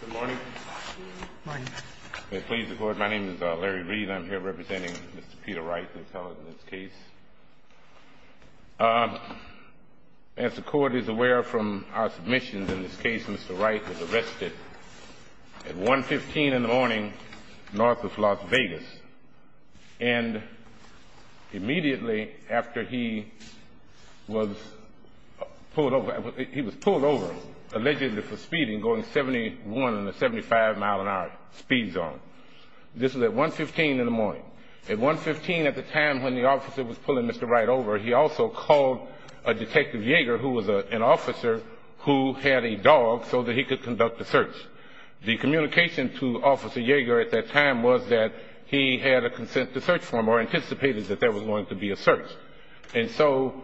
Good morning. My name is Larry Reed. I'm here representing Mr. Peter Wright in this case. As the court is aware from our submissions in this case, Mr. Wright was arrested at 1.15 in the morning north of Las Vegas. And immediately after he was pulled over, allegedly for speeding, going 71 in a 75 mile an hour speed zone. This was at 1.15 in the morning. At 1.15 at the time when the officer was pulling Mr. Wright over, he also called a detective Yeager who was an officer who had a dog so that he could conduct the search. The communication to Officer Yeager at that time was that he had a consent to search form or anticipated that there was going to be a search. And so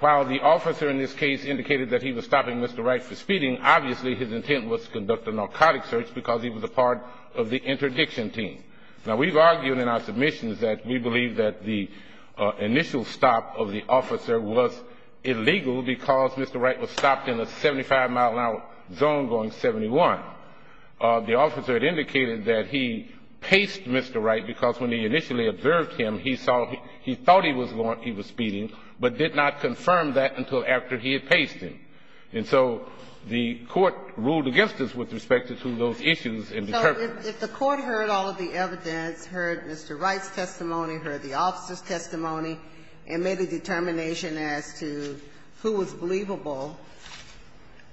while the officer in this case indicated that he was stopping Mr. Wright for speeding, obviously his intent was to conduct a narcotic search because he was a part of the interdiction team. Now we've argued in our submissions that we believe that the initial stop of the officer was illegal because Mr. Wright was stopped in a 75 mile an hour zone going 71. The officer had indicated that he paced Mr. Wright because when he initially observed him, he saw he thought he was going to be speeding, but did not confirm that until after he had paced him. And so the court ruled against us with respect to those issues and determined. So if the court heard all of the evidence, heard Mr. Wright's testimony, heard the officer's testimony, and made a determination as to who was believable,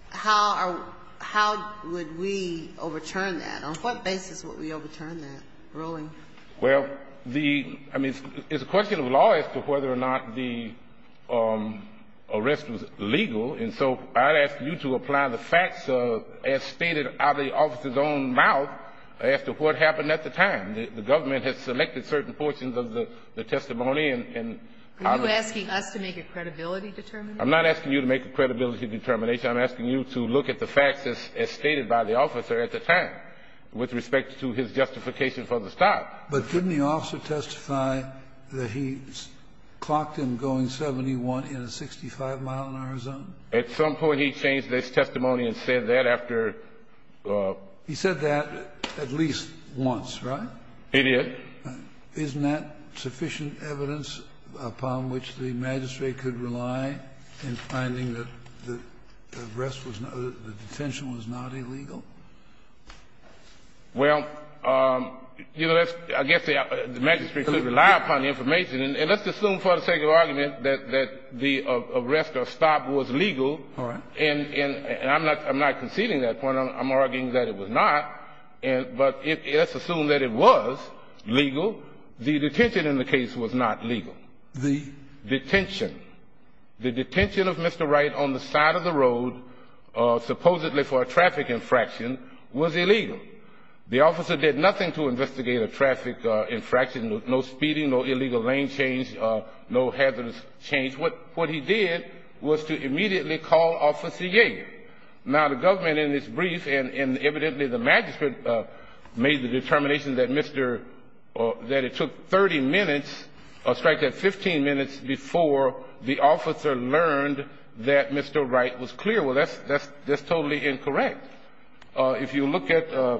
how are we – how would we overturn that? On what basis would we overturn that ruling? Well, the – I mean, it's a question of law as to whether or not the arrest was illegal. And so I'd ask you to apply the facts as stated out of the officer's own mouth as to what happened at the time. The government has selected certain portions of the testimony and – Are you asking us to make a credibility determination? I'm not asking you to make a credibility determination. I'm asking you to look at the facts as stated by the officer at the time with respect to his justification for the stop. But didn't the officer testify that he clocked him going 71 in a 65 mile an hour zone? At some point he changed his testimony and said that after – He said that at least once, right? He did. Isn't that sufficient evidence upon which the magistrate could rely in finding that the arrest was – the detention was not illegal? Well, you know, that's – I guess the magistrate could rely upon the information. And let's assume for the sake of argument that the arrest or stop was legal. All right. And I'm not conceding that point. I'm arguing that it was not. But let's assume that it was legal. The detention in the case was not legal. The? Detention. The detention of Mr. Wright on the side of the road, supposedly for a traffic infraction, was illegal. The officer did nothing to investigate a traffic infraction, no speeding, no illegal lane change, no hazardous change. What he did was to immediately call Officer Yeager. Now, the government in this brief, and evidently the magistrate made the determination that Mr. – that it took 30 minutes, or strike that, 15 minutes before the officer learned that Mr. Wright was clear. Well, that's totally incorrect. If you look at the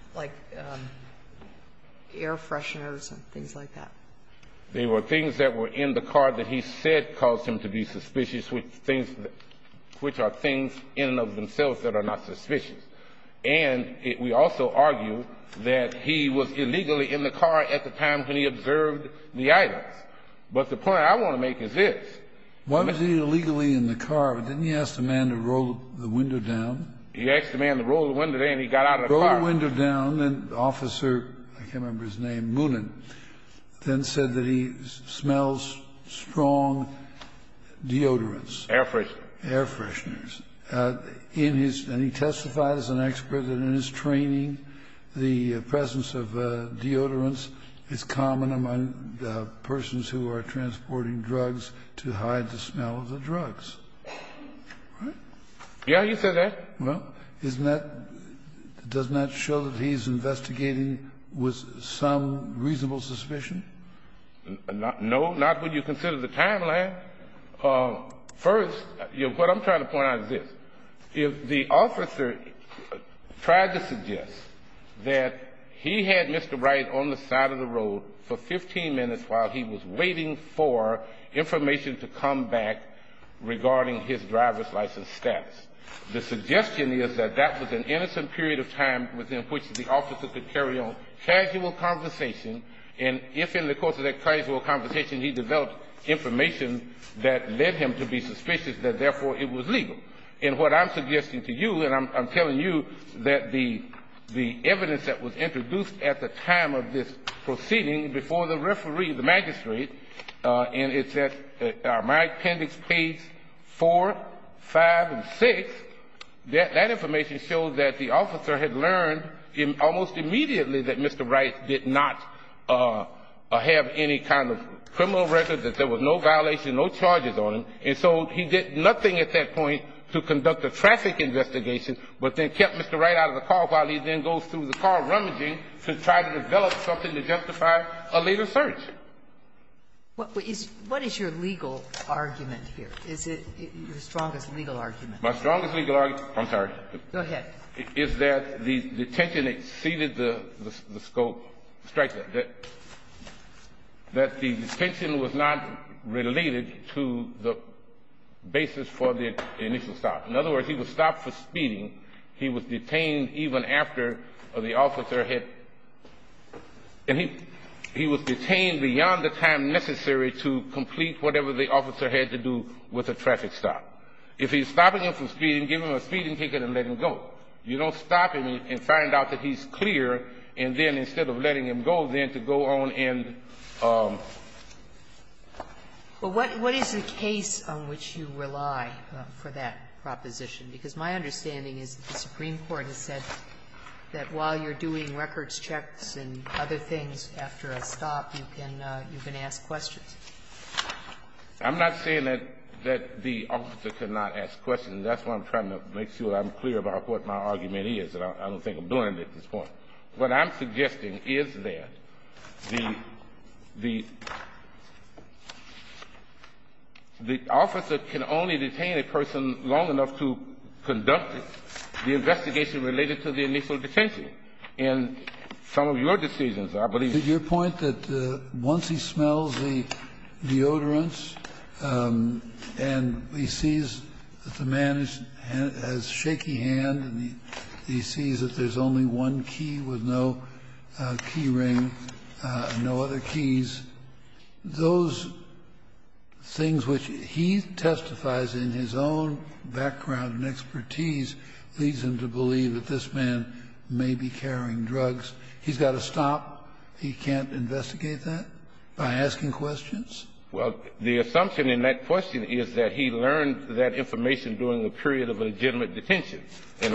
– Like air fresheners and things like that. There were things that were in the car that he said caused him to be suspicious, which things – which are things in and of themselves that are not suspicious. And we also argue that he was illegally in the car at the time when he observed the items. But the point I want to make is this. Why was he illegally in the car? Didn't he ask the man to roll the window down? He asked the man to roll the window down. He got out of the car. Roll the window down. And the officer, I can't remember his name, Moonen, then said that he smells strong deodorants. Air fresheners. Air fresheners. In his – and he testified as an expert that in his training, the presence of deodorants is common among persons who are transporting drugs to hide the smell of the drugs. Right? Yeah, he said that. Well, isn't that – doesn't that show that he's investigating with some reasonable suspicion? No, not when you consider the timeline. First, what I'm trying to point out is this. If the officer tried to suggest that he had Mr. Wright on the side of the road for 15 minutes while he was waiting for information to come back regarding his driver's license status, the suggestion is that that was an innocent period of time within which the officer could carry on casual conversation. And if in the course of that casual conversation he developed information that led him to be suspicious, that therefore it was legal. And what I'm suggesting to you, and I'm telling you that the evidence that was introduced at the time of this proceeding before the referee, the magistrate, and it says – my appendix, page 4, 5, and 6, that information shows that the officer had learned almost immediately that Mr. Wright did not have any kind of criminal record, that there was no violation, no charges on him. And so he did nothing at that point to conduct a traffic investigation but then kept Mr. Wright out of the car while he then goes through the car rummaging to try to develop something to justify a later search. What is your legal argument here? Is it your strongest legal argument? My strongest legal argument – I'm sorry. Go ahead. Is that the detention exceeded the scope – strike that. That the detention was not related to the basis for the initial stop. In other words, he was stopped for speeding. He was detained even after the officer had – and he was detained beyond the time necessary to complete whatever the officer had to do with the traffic stop. If he's stopping him from speeding, give him a speeding ticket and let him go. You don't stop him and find out that he's clear, and then instead of letting him go, then to go on and – Well, what is the case on which you rely for that proposition? Because my understanding is that the Supreme Court has said that while you're doing records checks and other things after a stop, you can ask questions. I'm not saying that the officer cannot ask questions. That's why I'm trying to make sure I'm clear about what my argument is. I don't think I'm doing it at this point. What I'm suggesting is that the officer can only detain a person long enough to conduct the investigation related to the initial detention. And some of your decisions, I believe – Your point that once he smells the deodorants and he sees that the man has shaky hands and he sees that there's only one key with no key ring, no other keys, those things which he testifies in his own background and expertise leads him to believe that this man may be carrying drugs. He's got to stop. He can't investigate that by asking questions? Well, the assumption in that question is that he learned that information during the period of legitimate detention. He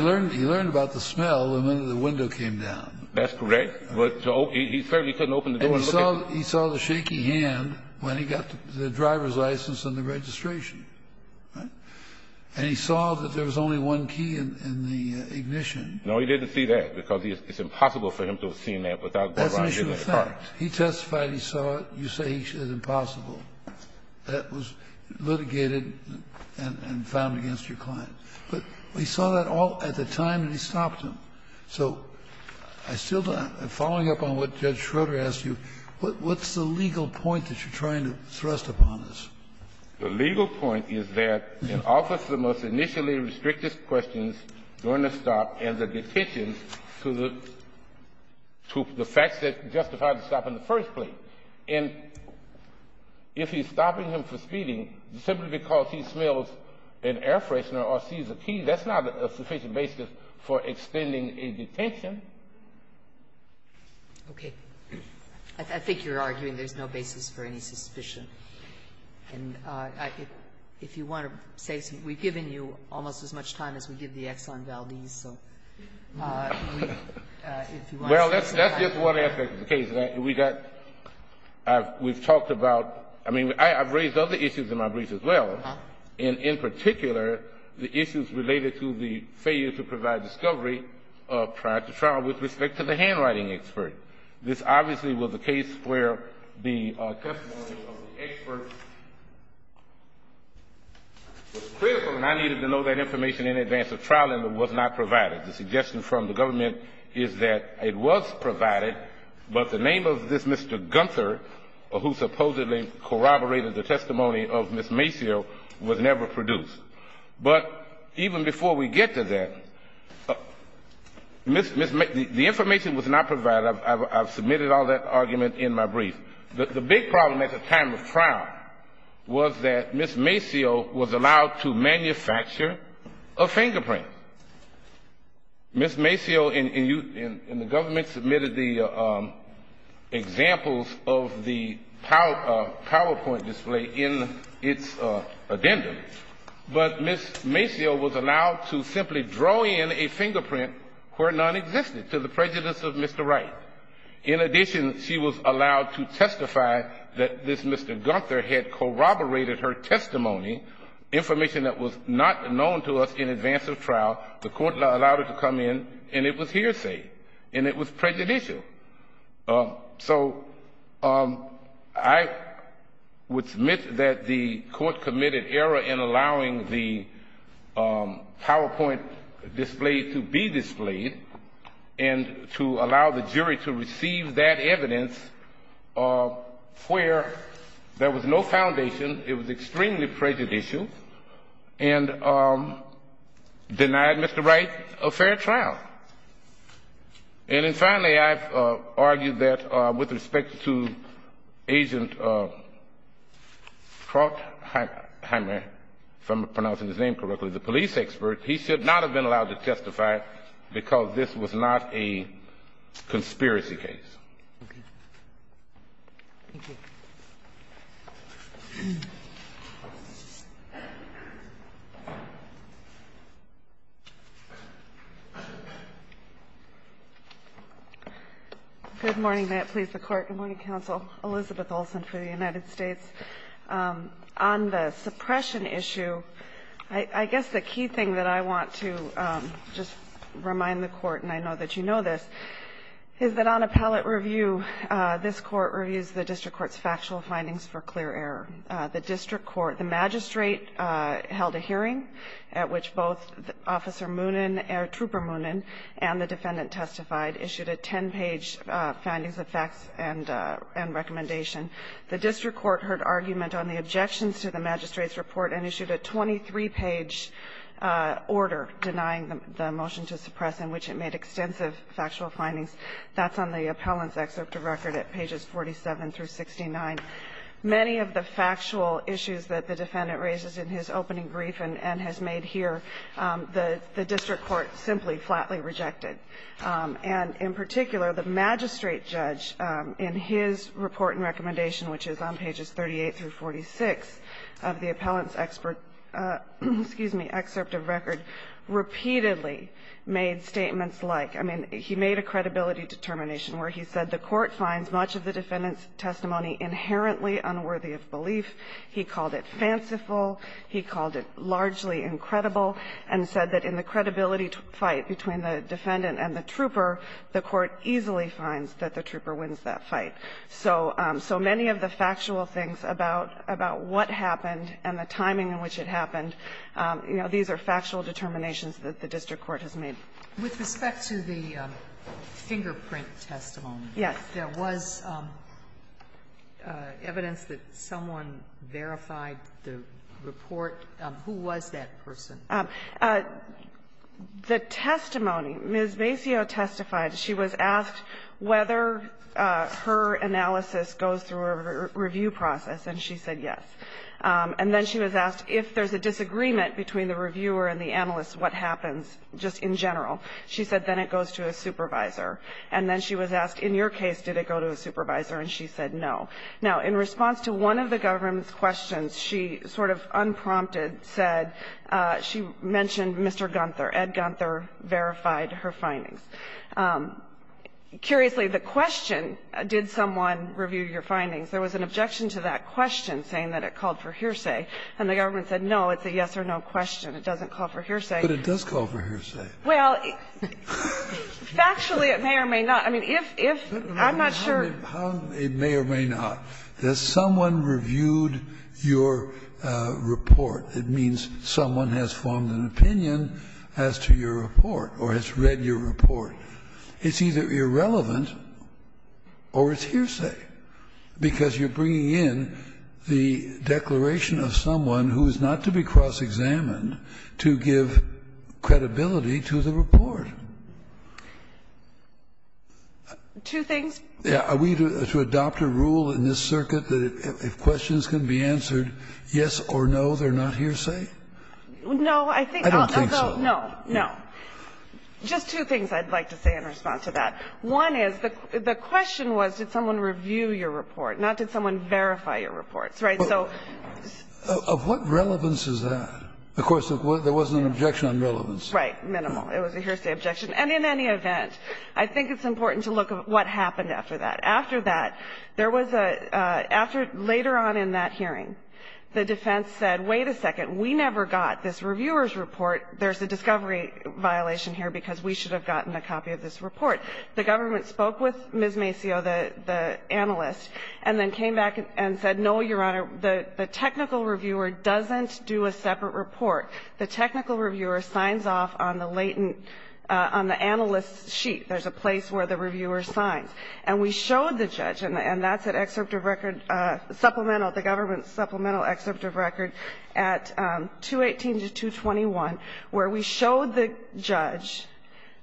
learned about the smell when the window came down. That's correct. He certainly couldn't open the door and look at it. And he saw the shaky hand when he got the driver's license and the registration. And he saw that there was only one key in the ignition. No, he didn't see that, because it's impossible for him to have seen that without going around looking at the car. That's an issue of fact. He testified he saw it. You say it's impossible. That was litigated and found against your client. But he saw that all at the time and he stopped him. So I still don't know. Following up on what Judge Schroeder asked you, what's the legal point that you're trying to thrust upon this? The legal point is that an officer must initially restrict his questions during the stop and the detentions to the facts that justify the stop in the first place. And if he's stopping him for speeding simply because he smells an air freshener or sees a key, that's not a sufficient basis for extending a detention. Okay. I think you're arguing there's no basis for any suspicion. And if you want to say something, we've given you almost as much time as we give the Exxon Valdez. Well, that's just one aspect of the case. We've talked about ñ I mean, I've raised other issues in my briefs as well. And in particular, the issues related to the failure to provide discovery prior to trial with respect to the handwriting expert. This obviously was a case where the testimony of the expert was critical and I needed to know that information in advance of trial and it was not provided. The suggestion from the government is that it was provided, but the name of this Mr. Gunther, who supposedly corroborated the testimony of Ms. Macio, was never produced. But even before we get to that, the information was not provided. I've submitted all that argument in my brief. The big problem at the time of trial was that Ms. Macio was allowed to manufacture a fingerprint. Ms. Macio and the government submitted the examples of the PowerPoint display in its addendum. But Ms. Macio was allowed to simply draw in a fingerprint where none existed to the prejudice of Mr. Wright. In addition, she was allowed to testify that this Mr. Gunther had corroborated her testimony, information that was not known to us in advance of trial. The court allowed her to come in and it was hearsay and it was prejudicial. So I would submit that the court committed error in allowing the PowerPoint display to be displayed and to allow the jury to receive that evidence where there was no foundation, it was extremely prejudicial, and denied Mr. Wright a fair trial. And then finally, I've argued that with respect to Agent Krautheimer, if I'm pronouncing his name correctly, the police expert, he should not have been allowed to testify because this was not a conspiracy case. Thank you. Good morning. May it please the Court. Good morning, Counsel. Elizabeth Olson for the United States. On the suppression issue, I guess the key thing that I want to just remind the Court, and I know that you know this, is that on appellate review, this Court reviews the district court's factual findings for clear error. The district court, the magistrate held a hearing at which both Officer Moonen or Trooper Moonen and the defendant testified issued a ten-page findings of facts and recommendation. The district court heard argument on the objections to the magistrate's report and issued a 23-page order denying the motion to suppress in which it made extensive factual findings. That's on the appellant's excerpt of record at pages 47 through 69. Many of the factual issues that the defendant raises in his opening brief and has made here, the district court simply flatly rejected. And in particular, the magistrate judge, in his report and recommendation, which is on pages 38 through 46 of the appellant's excerpt of record, repeatedly made statements like, I mean, he made a credibility determination where he said the court finds much of the defendant's testimony inherently unworthy of belief. He called it fanciful. He called it largely incredible. And said that in the credibility fight between the defendant and the trooper, the court easily finds that the trooper wins that fight. So many of the factual things about what happened and the timing in which it happened, you know, these are factual determinations that the district court has made. Sotomayor, with respect to the fingerprint testimony, there was evidence that someone verified the report. Who was that person? The testimony. Ms. Macio testified. She was asked whether her analysis goes through a review process, and she said yes. And then she was asked if there's a disagreement between the reviewer and the analyst what happens just in general. She said then it goes to a supervisor. And then she was asked, in your case, did it go to a supervisor, and she said no. Now, in response to one of the government's questions, she sort of unprompted said she mentioned Mr. Gunther. Ed Gunther verified her findings. Curiously, the question, did someone review your findings, there was an objection to that question saying that it called for hearsay. And the government said no, it's a yes or no question. It doesn't call for hearsay. But it does call for hearsay. Well, factually, it may or may not. I mean, if, if, I'm not sure. It may or may not. If someone reviewed your report, it means someone has formed an opinion as to your report or has read your report. It's either irrelevant or it's hearsay, because you're bringing in the declaration of someone who is not to be cross-examined to give credibility to the report. Two things. Are we to adopt a rule in this circuit that if questions can be answered yes or no, they're not hearsay? No, I think. I don't think so. No, no. Just two things I'd like to say in response to that. One is the question was did someone review your report, not did someone verify your reports, right? So. Of what relevance is that? Of course, there was an objection on relevance. Right. Minimal. It was a hearsay objection. And in any event, I think it's important to look at what happened after that. After that, there was a, after, later on in that hearing, the defense said, wait a second, we never got this reviewer's report. There's a discovery violation here because we should have gotten a copy of this report. The government spoke with Ms. Macio, the analyst, and then came back and said, no, Your Honor, the technical reviewer doesn't do a separate report. The technical reviewer signs off on the latent, on the analyst's sheet. There's a place where the reviewer signs. And we showed the judge, and that's an excerpt of record, supplemental, the government's supplemental excerpt of record at 218 to 221, where we showed the judge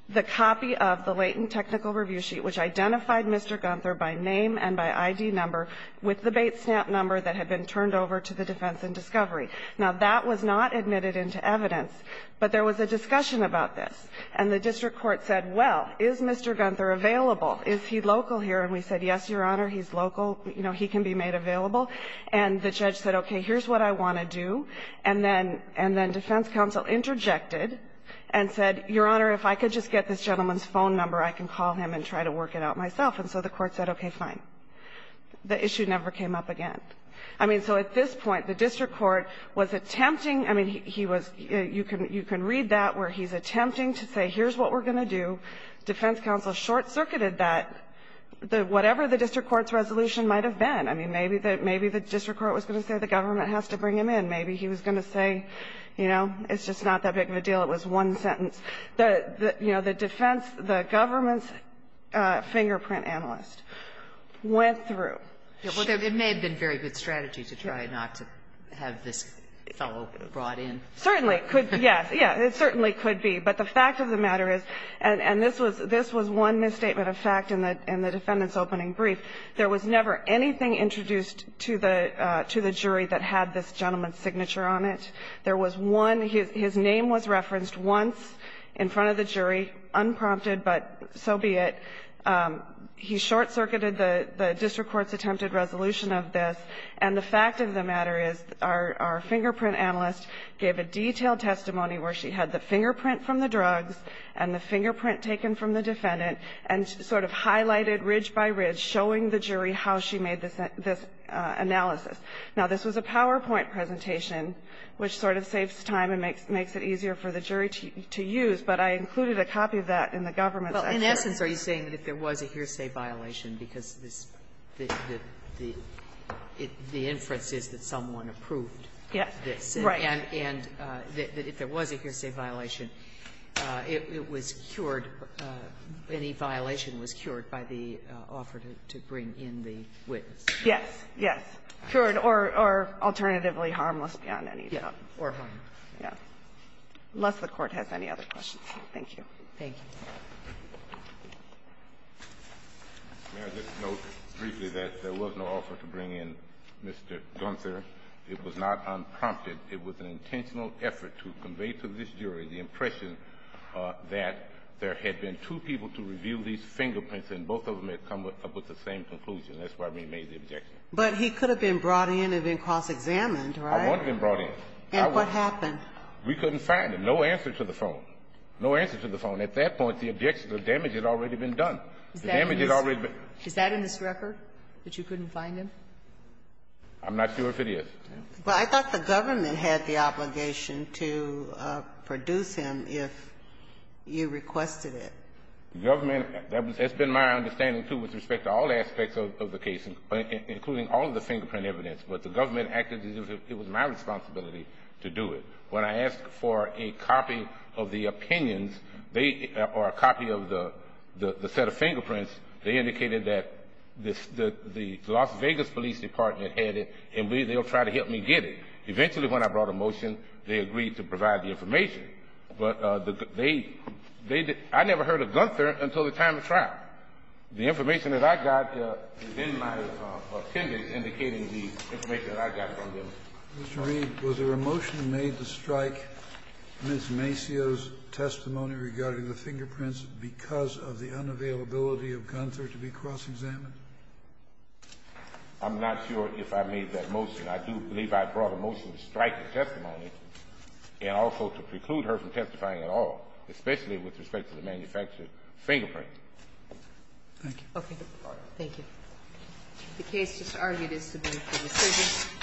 the copy of the latent technical review sheet, which identified Mr. Gunther by name and by ID number with the bait stamp number that had been turned over to the defense in discovery. Now, that was not admitted into evidence, but there was a discussion about this. And the district court said, well, is Mr. Gunther available? Is he local here? And we said, yes, Your Honor, he's local. You know, he can be made available. And the judge said, okay, here's what I want to do. And then defense counsel interjected and said, Your Honor, if I could just get this gentleman's phone number, I can call him and try to work it out myself. And so the court said, okay, fine. The issue never came up again. I mean, so at this point, the district court was attempting, I mean, he was you can read that where he's attempting to say here's what we're going to do. Defense counsel short-circuited that. Whatever the district court's resolution might have been, I mean, maybe the district court was going to say the government has to bring him in. Maybe he was going to say, you know, it's just not that big of a deal. It was one sentence. You know, the defense, the government's fingerprint analyst went through. Well, it may have been a very good strategy to try not to have this fellow brought in. Certainly. Yes. Yes. It certainly could be. But the fact of the matter is, and this was one misstatement of fact in the defendant's opening brief, there was never anything introduced to the jury that had this gentleman's signature on it. There was one. His name was referenced once in front of the jury, unprompted, but so be it. He short-circuited the district court's attempted resolution of this, and the fact of the matter is our fingerprint analyst gave a detailed testimony where she had the fingerprint from the drugs and the fingerprint taken from the defendant and sort of highlighted ridge by ridge showing the jury how she made this analysis. Now, this was a PowerPoint presentation, which sort of saves time and makes it easier for the jury to use, but I included a copy of that in the government's. In essence, are you saying that if there was a hearsay violation, because this the inference is that someone approved this. Yes. Right. And if there was a hearsay violation, it was cured, any violation was cured by the offer to bring in the witness. Yes. Yes. Cured or alternatively harmless beyond any doubt. Yes. Or harmless. Unless the Court has any other questions. Thank you. Thank you. May I just note briefly that there was no offer to bring in Mr. Gunther. It was not unprompted. It was an intentional effort to convey to this jury the impression that there had been two people to review these fingerprints, and both of them had come up with the same conclusion. That's why we made the objection. But he could have been brought in and been cross-examined, right? I wouldn't have been brought in. And what happened? We couldn't find him. No answer to the phone. No answer to the phone. At that point, the objection, the damage had already been done. The damage had already been done. Is that in his record, that you couldn't find him? I'm not sure if it is. Well, I thought the government had the obligation to produce him if you requested it. The government, that's been my understanding, too, with respect to all aspects of the case, including all of the fingerprint evidence. But the government acted as if it was my responsibility to do it. When I asked for a copy of the opinions, they or a copy of the set of fingerprints, they indicated that the Las Vegas Police Department had it, and they will try to help me get it. Eventually, when I brought a motion, they agreed to provide the information. But they didn't. I never heard of Gunther until the time of trial. The information that I got is in my appendix indicating the information that I got from them. Mr. Reed, was there a motion made to strike Ms. Macio's testimony regarding the fingerprints because of the unavailability of Gunther to be cross-examined? I'm not sure if I made that motion. I do believe I brought a motion to strike the testimony, and also to preclude her from testifying at all, especially with respect to the manufactured fingerprints. Thank you. Okay. Thank you. The case is argued as to be a decision.